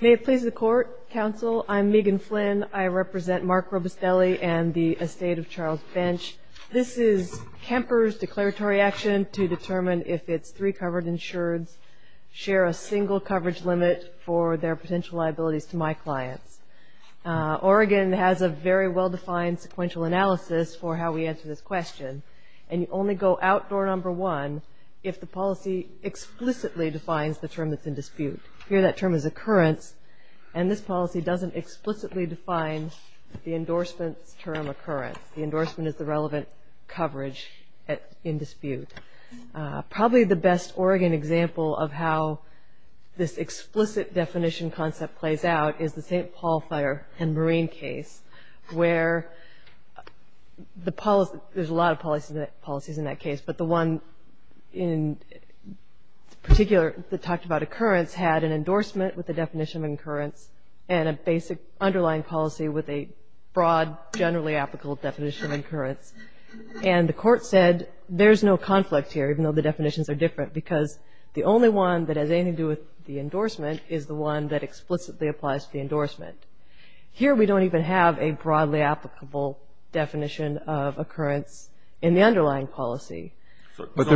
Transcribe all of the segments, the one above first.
May it please the Court, Counsel, I'm Megan Flynn. I represent Mark Robustelli and the estate of Charles Bench. This is Kemper's declaratory action to determine if its three covered insureds share a single coverage limit for their potential liabilities to my clients. Oregon has a very well-defined sequential analysis for how we answer this question, and you only go out door number one if the policy explicitly defines the term that's in dispute. Here that term is occurrence, and this policy doesn't explicitly define the endorsement's term occurrence. The endorsement is the relevant coverage in dispute. Probably the best Oregon example of how this explicit definition concept plays out is the St. Paul Fire and Marine case, where there's a lot of policies in that case. But the one in particular that talked about occurrence had an endorsement with a definition of occurrence and a basic underlying policy with a broad, generally applicable definition of occurrence. And the Court said there's no conflict here, even though the definitions are different, because the only one that has anything to do with the endorsement is the one that explicitly applies to the endorsement. Here we don't even have a broadly applicable definition of occurrence in the underlying policy. I was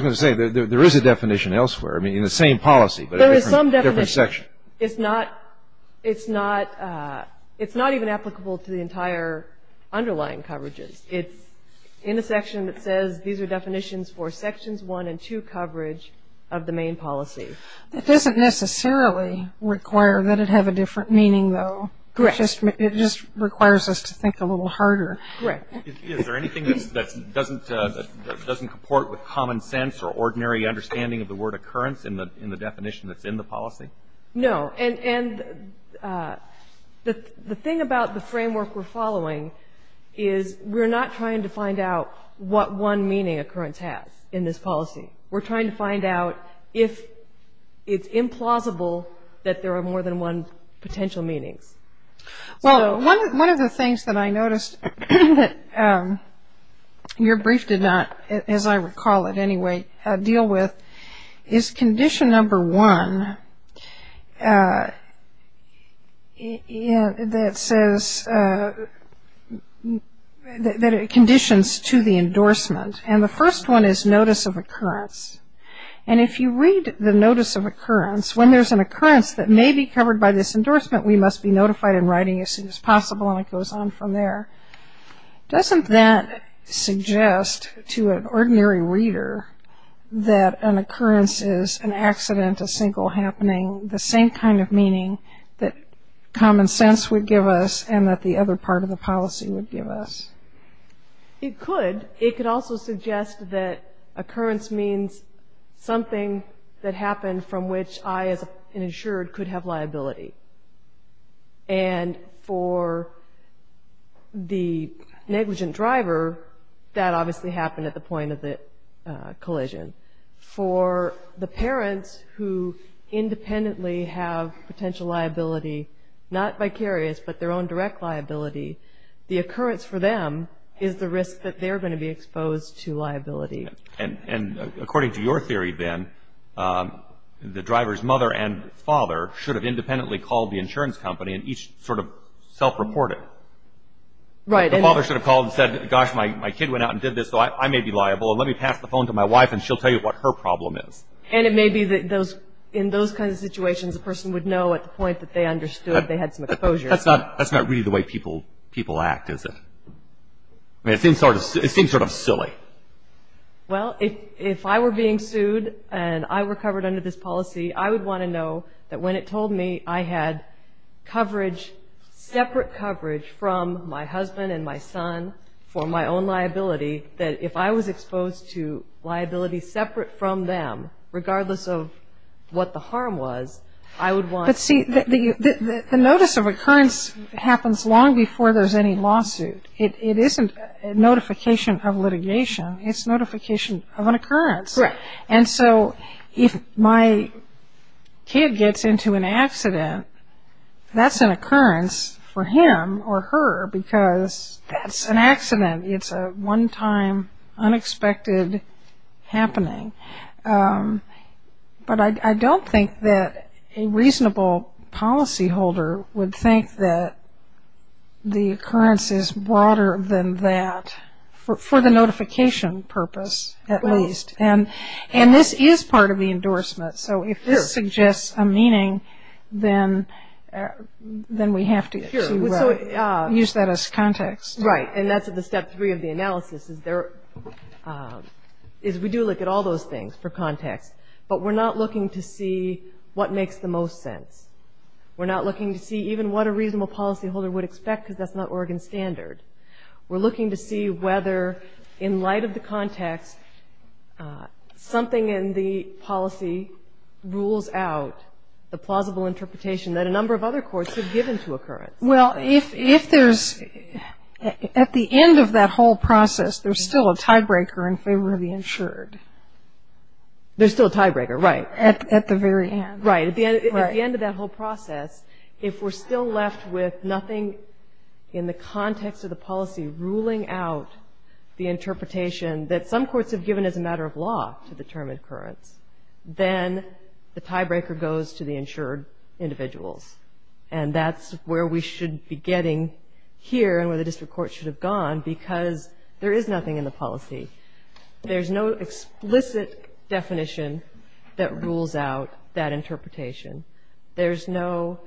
going to say, there is a definition elsewhere, I mean, in the same policy, but a different section. There is some definition. It's not even applicable to the entire underlying coverages. It's in a section that says these are definitions for sections one and two coverage of the main policy. It doesn't necessarily require that it have a different meaning, though. Correct. It just requires us to think a little harder. Correct. Is there anything that doesn't comport with common sense or ordinary understanding of the word occurrence in the definition that's in the policy? No. And the thing about the framework we're following is we're not trying to find out what one meaning occurrence has in this policy. We're trying to find out if it's implausible that there are more than one potential meanings. Well, one of the things that I noticed that your brief did not, as I recall it anyway, deal with, is condition number one that says that it conditions to the endorsement. And the first one is notice of occurrence. And if you read the notice of occurrence, when there's an occurrence that may be covered by this endorsement, we must be notified in writing as soon as possible, and it goes on from there. Doesn't that suggest to an ordinary reader that an occurrence is an accident, a single happening, the same kind of meaning that common sense would give us and that the other part of the policy would give us? It could. It could also suggest that occurrence means something that happened from which I, as an insured, could have liability. And for the negligent driver, that obviously happened at the point of the collision. For the parents who independently have potential liability, not vicarious, but their own direct liability, the occurrence for them is the risk that they're going to be exposed to liability. And according to your theory, Ben, the driver's mother and father should have independently called the insurance company and each sort of self-reported. Right. The father should have called and said, gosh, my kid went out and did this, so I may be liable. Let me pass the phone to my wife, and she'll tell you what her problem is. And it may be that in those kinds of situations, a person would know at the point that they understood they had some exposure. That's not really the way people act, is it? I mean, it seems sort of silly. Well, if I were being sued and I were covered under this policy, I would want to know that when it told me I had coverage, separate coverage from my husband and my son for my own liability, that if I was exposed to liability separate from them, regardless of what the harm was, I would want to know. But see, the notice of occurrence happens long before there's any lawsuit. It isn't notification of litigation. It's notification of an occurrence. Correct. And so if my kid gets into an accident, that's an occurrence for him or her because that's an accident. It's a one-time, unexpected happening. But I don't think that a reasonable policyholder would think that the occurrence is broader than that, for the notification purpose at least. And this is part of the endorsement. So if this suggests a meaning, then we have to use that as context. Right. And that's the step three of the analysis, is we do look at all those things for context, but we're not looking to see what makes the most sense. We're not looking to see even what a reasonable policyholder would expect because that's not Oregon standard. We're looking to see whether, in light of the context, something in the policy rules out the plausible interpretation that a number of other courts have given to occurrence. Well, if there's, at the end of that whole process, there's still a tiebreaker in favor of the insured. There's still a tiebreaker, right. At the very end. Right. At the end of that whole process, if we're still left with nothing in the context of the policy ruling out the interpretation that some courts have given as a matter of law to determine occurrence, then the tiebreaker goes to the insured individuals. And that's where we should be getting here and where the district court should have gone because there is nothing in the policy. There's no explicit definition that rules out that interpretation. There's no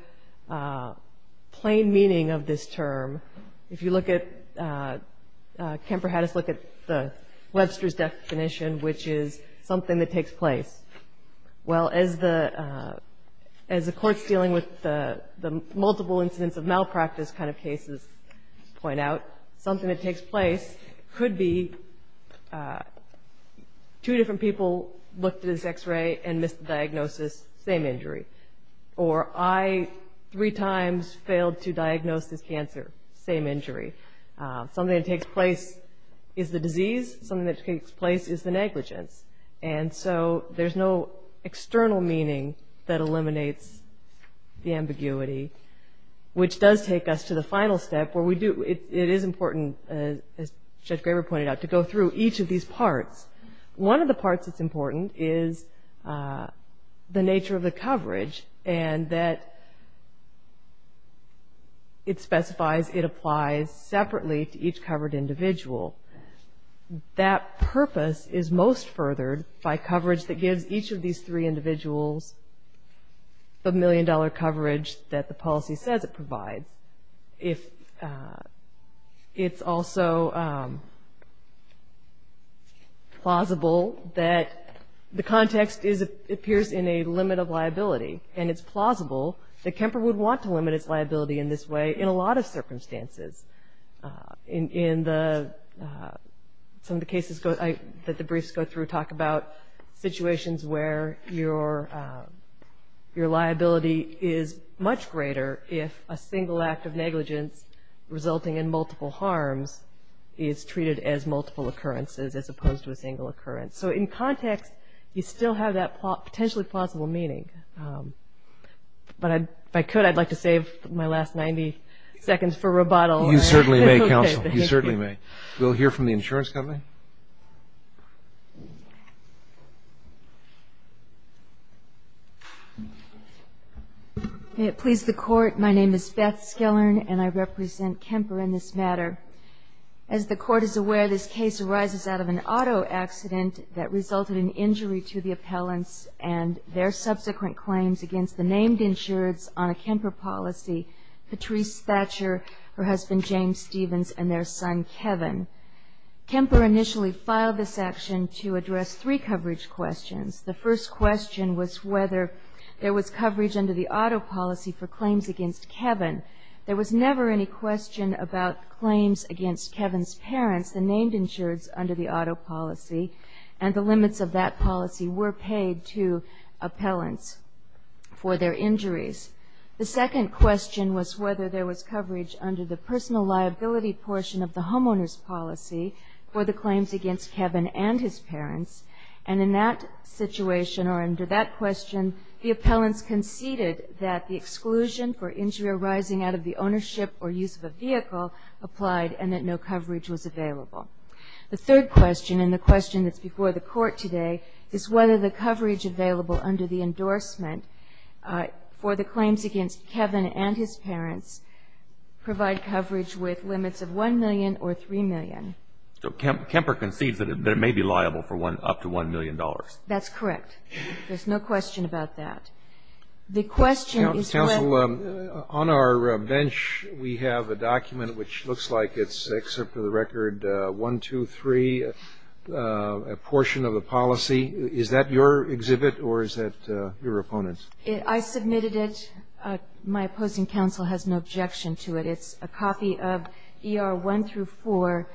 plain meaning of this term. If you look at, Kemper had us look at the Webster's definition, which is something that takes place. Well, as the courts dealing with the multiple incidents of malpractice kind of cases point out, something that takes place could be two different people looked at this X-ray and missed the diagnosis, same injury. Or I three times failed to diagnose this cancer, same injury. Something that takes place is the disease. Something that takes place is the negligence. And so there's no external meaning that eliminates the ambiguity, which does take us to the final step where we do. It is important, as Judge Graber pointed out, to go through each of these parts. One of the parts that's important is the nature of the coverage and that it specifies it applies separately to each covered individual. That purpose is most furthered by coverage that gives each of these three individuals the million-dollar coverage that the policy says it provides. It's also plausible that the context appears in a limit of liability, and it's plausible that Kemper would want to limit its liability in this way in a lot of circumstances. In some of the cases that the briefs go through talk about situations where your liability is much greater if a single act of negligence resulting in multiple harms is treated as multiple occurrences as opposed to a single occurrence. So in context, you still have that potentially plausible meaning. But if I could, I'd like to save my last 90 seconds for rebuttal. You certainly may, Counsel. You certainly may. We'll hear from the insurance company. May it please the Court, my name is Beth Skillern, and I represent Kemper in this matter. As the Court is aware, this case arises out of an auto accident that resulted in injury to the appellants and their subsequent claims against the named insureds on a Kemper policy. Patrice Thatcher, her husband James Stevens, and their son Kevin. Kemper initially filed this action to address three coverage questions. The first question was whether there was coverage under the auto policy for claims against Kevin. There was never any question about claims against Kevin's parents, the named insureds, under the auto policy, and the limits of that policy were paid to appellants for their injuries. The second question was whether there was coverage under the personal liability portion of the homeowner's policy for the claims against Kevin and his parents. And in that situation, or under that question, the appellants conceded that the exclusion for injury arising out of the ownership or use of a vehicle applied and that no coverage was available. The third question, and the question that's before the Court today, is whether the coverage available under the endorsement for the claims against Kevin and his parents provide coverage with limits of $1 million or $3 million. Kennedy So Kemper concedes that it may be liable for up to $1 million. Patrice That's correct. There's no question about that. The question is what ---- Kennedy Counsel, on our bench we have a document which looks like it's, except for the record, 1, 2, 3, a portion of the policy. Is that your exhibit or is that your opponent's? Patrice I submitted it. My opposing counsel has no objection to it. It's a copy of ER 1 through 4,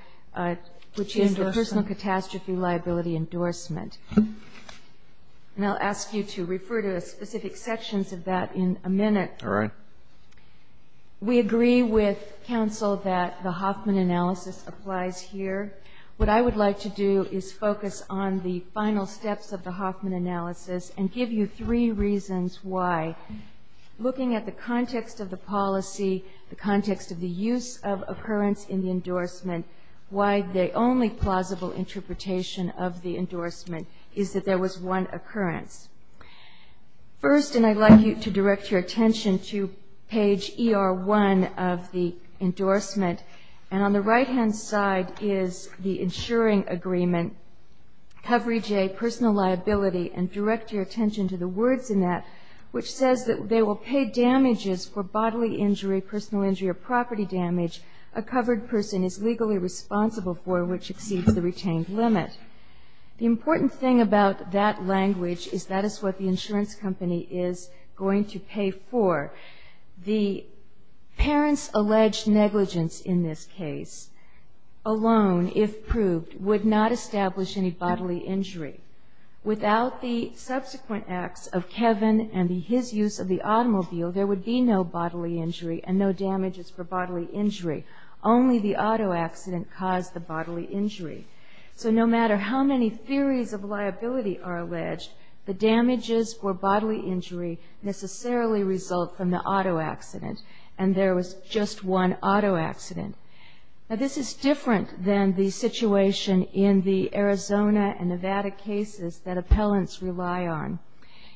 which is the personal catastrophe liability endorsement. And I'll ask you to refer to specific sections of that in a minute. Kennedy All right. We agree with counsel that the Hoffman analysis applies here. What I would like to do is focus on the final steps of the Hoffman analysis and give you three reasons why. Looking at the context of the policy, the context of the use of occurrence in the endorsement, why the only plausible interpretation of the endorsement is that there was one occurrence. First, and I'd like you to direct your attention to page ER 1 of the endorsement, and on the right-hand side is the insuring agreement, coverage A, personal liability, and direct your attention to the words in that, which says that they will pay damages for bodily injury, personal injury, or property damage a covered person is legally responsible for which exceeds the retained limit. The important thing about that language is that is what the insurance company is going to pay for. The parents' alleged negligence in this case alone, if proved, would not establish any bodily injury. Without the subsequent acts of Kevin and his use of the automobile, there would be no bodily injury and no damages for bodily injury. Only the auto accident caused the bodily injury. So no matter how many theories of liability are alleged, the damages for bodily injury necessarily result from the auto accident, and there was just one auto accident. Now, this is different than the situation in the Arizona and Nevada cases that appellants rely on.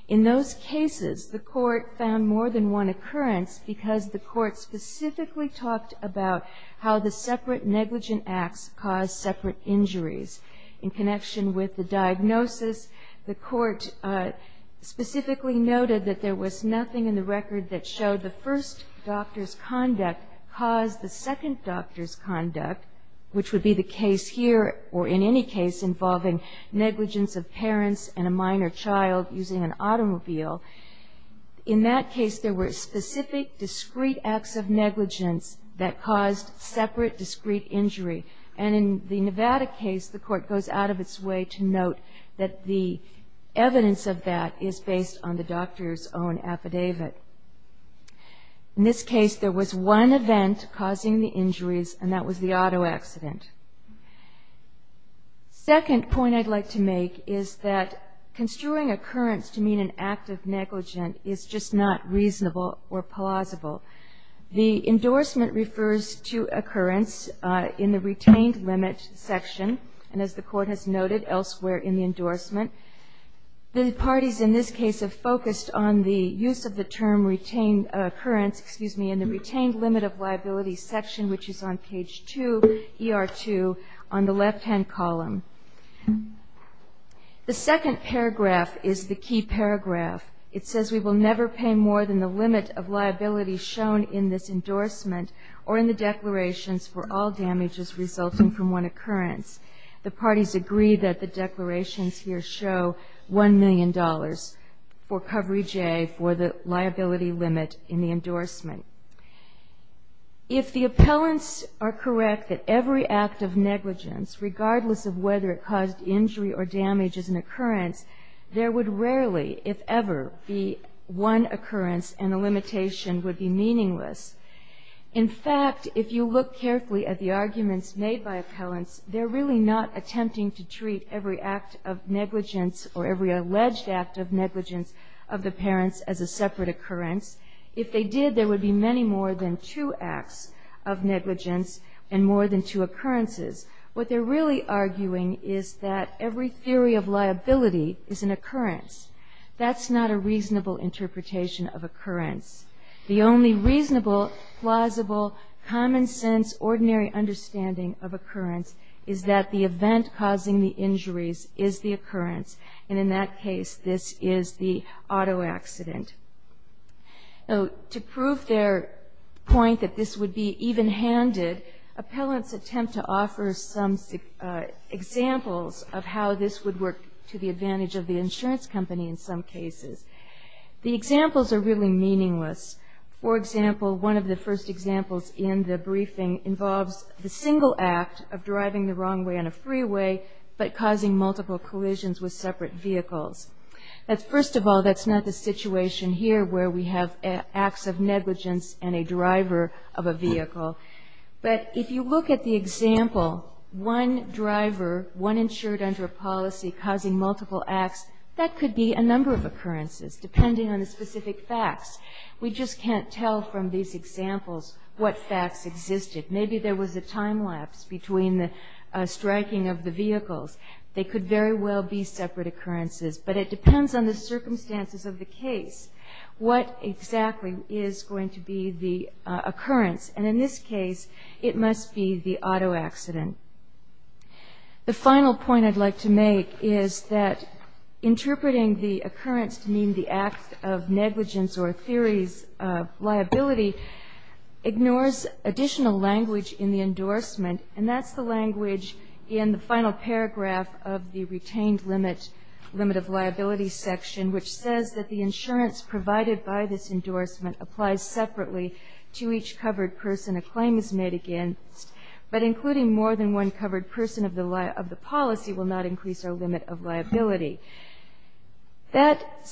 In those cases, the court found more than one occurrence because the court specifically talked about how the separate negligent acts caused separate injuries. In connection with the diagnosis, the court specifically noted that there was nothing in the record that showed the first doctor's conduct caused the second doctor's conduct, which would be the case here or in any case involving negligence of parents and a minor child using an automobile. In that case, there were specific, discrete acts of negligence that caused separate, discrete injury. And in the Nevada case, the court goes out of its way to note that the evidence of that is based on the doctor's own affidavit. In this case, there was one event causing the injuries, and that was the auto accident. Second point I'd like to make is that construing occurrence to mean an act of negligent is just not reasonable or plausible. The endorsement refers to occurrence in the retained limit section, and as the court has noted, elsewhere in the endorsement. The parties in this case have focused on the use of the term retained occurrence, excuse me, in the retained limit of liability section, which is on page 2, ER2, on the left-hand column. The second paragraph is the key paragraph. It says we will never pay more than the limit of liability shown in this endorsement or in the declarations for all damages resulting from one occurrence. The parties agree that the declarations here show $1 million for Covery J for the liability limit in the endorsement. If the appellants are correct that every act of negligence, regardless of whether it caused injury or damage as an occurrence, there would rarely, if ever, be one occurrence and the limitation would be meaningless. In fact, if you look carefully at the arguments made by appellants, they're really not attempting to treat every act of negligence or every alleged act of negligence of the parents as a separate occurrence. If they did, there would be many more than two acts of negligence and more than two occurrences. What they're really arguing is that every theory of liability is an occurrence. That's not a reasonable interpretation of occurrence. The only reasonable, plausible, common-sense, ordinary understanding of occurrence is that the event causing the injuries is the occurrence, and in that case, this is the auto accident. To prove their point that this would be even-handed, appellants attempt to offer some examples of how this would work to the advantage of the insurance company in some cases. The examples are really meaningless. For example, one of the first examples in the briefing involves the single act of driving the wrong way on a freeway but causing multiple collisions with separate vehicles. First of all, that's not the situation here where we have acts of negligence and a driver of a vehicle. But if you look at the example, one driver, one insured under a policy, causing multiple acts, that could be a number of occurrences, depending on the specific facts. We just can't tell from these examples what facts existed. Maybe there was a time lapse between the striking of the vehicles. They could very well be separate occurrences, but it depends on the circumstances of the case what exactly is going to be the occurrence, and in this case, it must be the auto accident. The final point I'd like to make is that interpreting the occurrence to mean the act of negligence or theories of liability ignores additional language in the endorsement, and that's the language in the final paragraph of the retained limit of liability section, which says that the insurance provided by this endorsement applies separately to each covered person a claim is made against, but including more than one covered person of the policy will not increase our limit of liability. That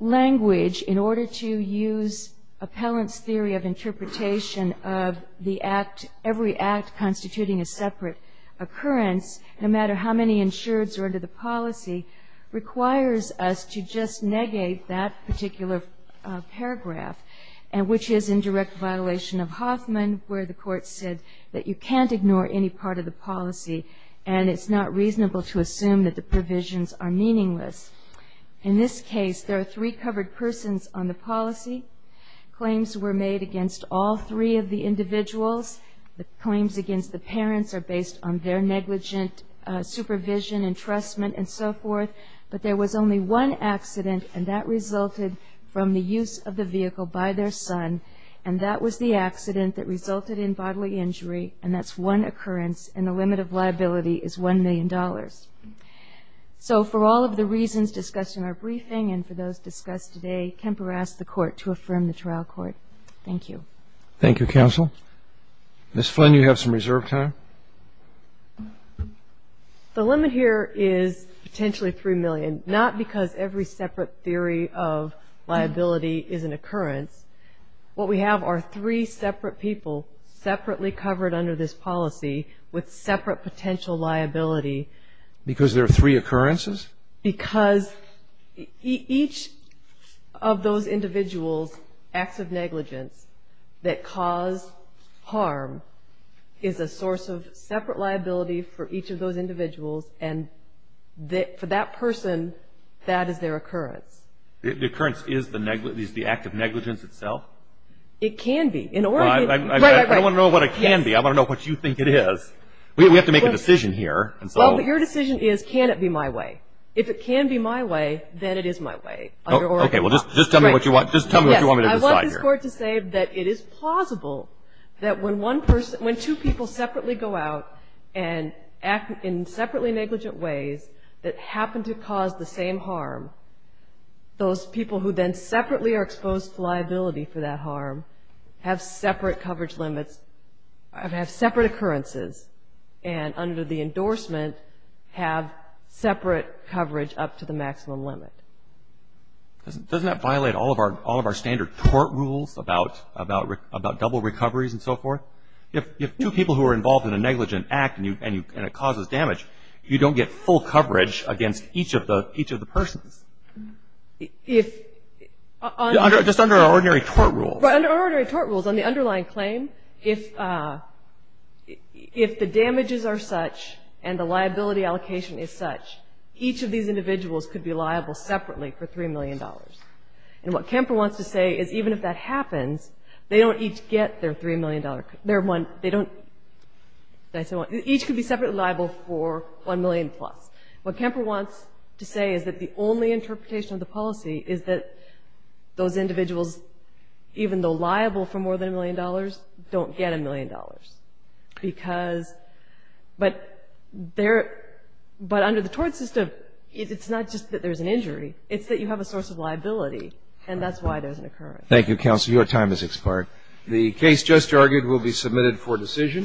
language, in order to use appellant's theory of interpretation of the act, every act constituting a separate occurrence, no matter how many insureds are under the policy, requires us to just negate that particular paragraph, which is in direct violation of Hoffman, where the court said that you can't ignore any part of the policy and it's not reasonable to assume that the provisions are meaningless. In this case, there are three covered persons on the policy. Claims were made against all three of the individuals. The claims against the parents are based on their negligent supervision, entrustment, and so forth, but there was only one accident, and that resulted from the use of the vehicle by their son, and that was the accident that resulted in bodily injury, and that's one occurrence, and the limit of liability is $1 million. So for all of the reasons discussed in our briefing and for those discussed today, Kemper asked the court to affirm the trial court. Thank you. Thank you, counsel. Ms. Flynn, you have some reserve time. The limit here is potentially $3 million, not because every separate theory of liability is an occurrence. What we have are three separate people separately covered under this policy with separate potential liability. Because there are three occurrences? Because each of those individuals' acts of negligence that cause harm is a source of separate liability for each of those individuals, and for that person, that is their occurrence. The occurrence is the act of negligence itself? It can be. I don't want to know what it can be. I want to know what you think it is. We have to make a decision here. Well, your decision is can it be my way. If it can be my way, then it is my way. Okay. Well, just tell me what you want me to decide here. I want this court to say that it is plausible that when two people separately go out and act in separately negligent ways that happen to cause the same harm, those people who then separately are exposed to liability for that harm have separate coverage limits, have separate occurrences, and under the endorsement have separate coverage up to the maximum limit. Doesn't that violate all of our standard court rules about double recoveries and so forth? If two people who are involved in a negligent act and it causes damage, you don't get full coverage against each of the persons. Just under our ordinary court rules. Under our ordinary court rules, on the underlying claim, if the damages are such and the liability allocation is such, each of these individuals could be liable separately for $3 million. And what Kemper wants to say is even if that happens, they don't each get their $3 million. They don't each could be separately liable for $1 million plus. What Kemper wants to say is that the only interpretation of the policy is that those individuals, even though liable for more than $1 million, don't get $1 million. But under the tort system, it's not just that there's an injury. It's that you have a source of liability, and that's why there's an occurrence. Thank you, counsel. Your time has expired. The case just argued will be submitted for decision.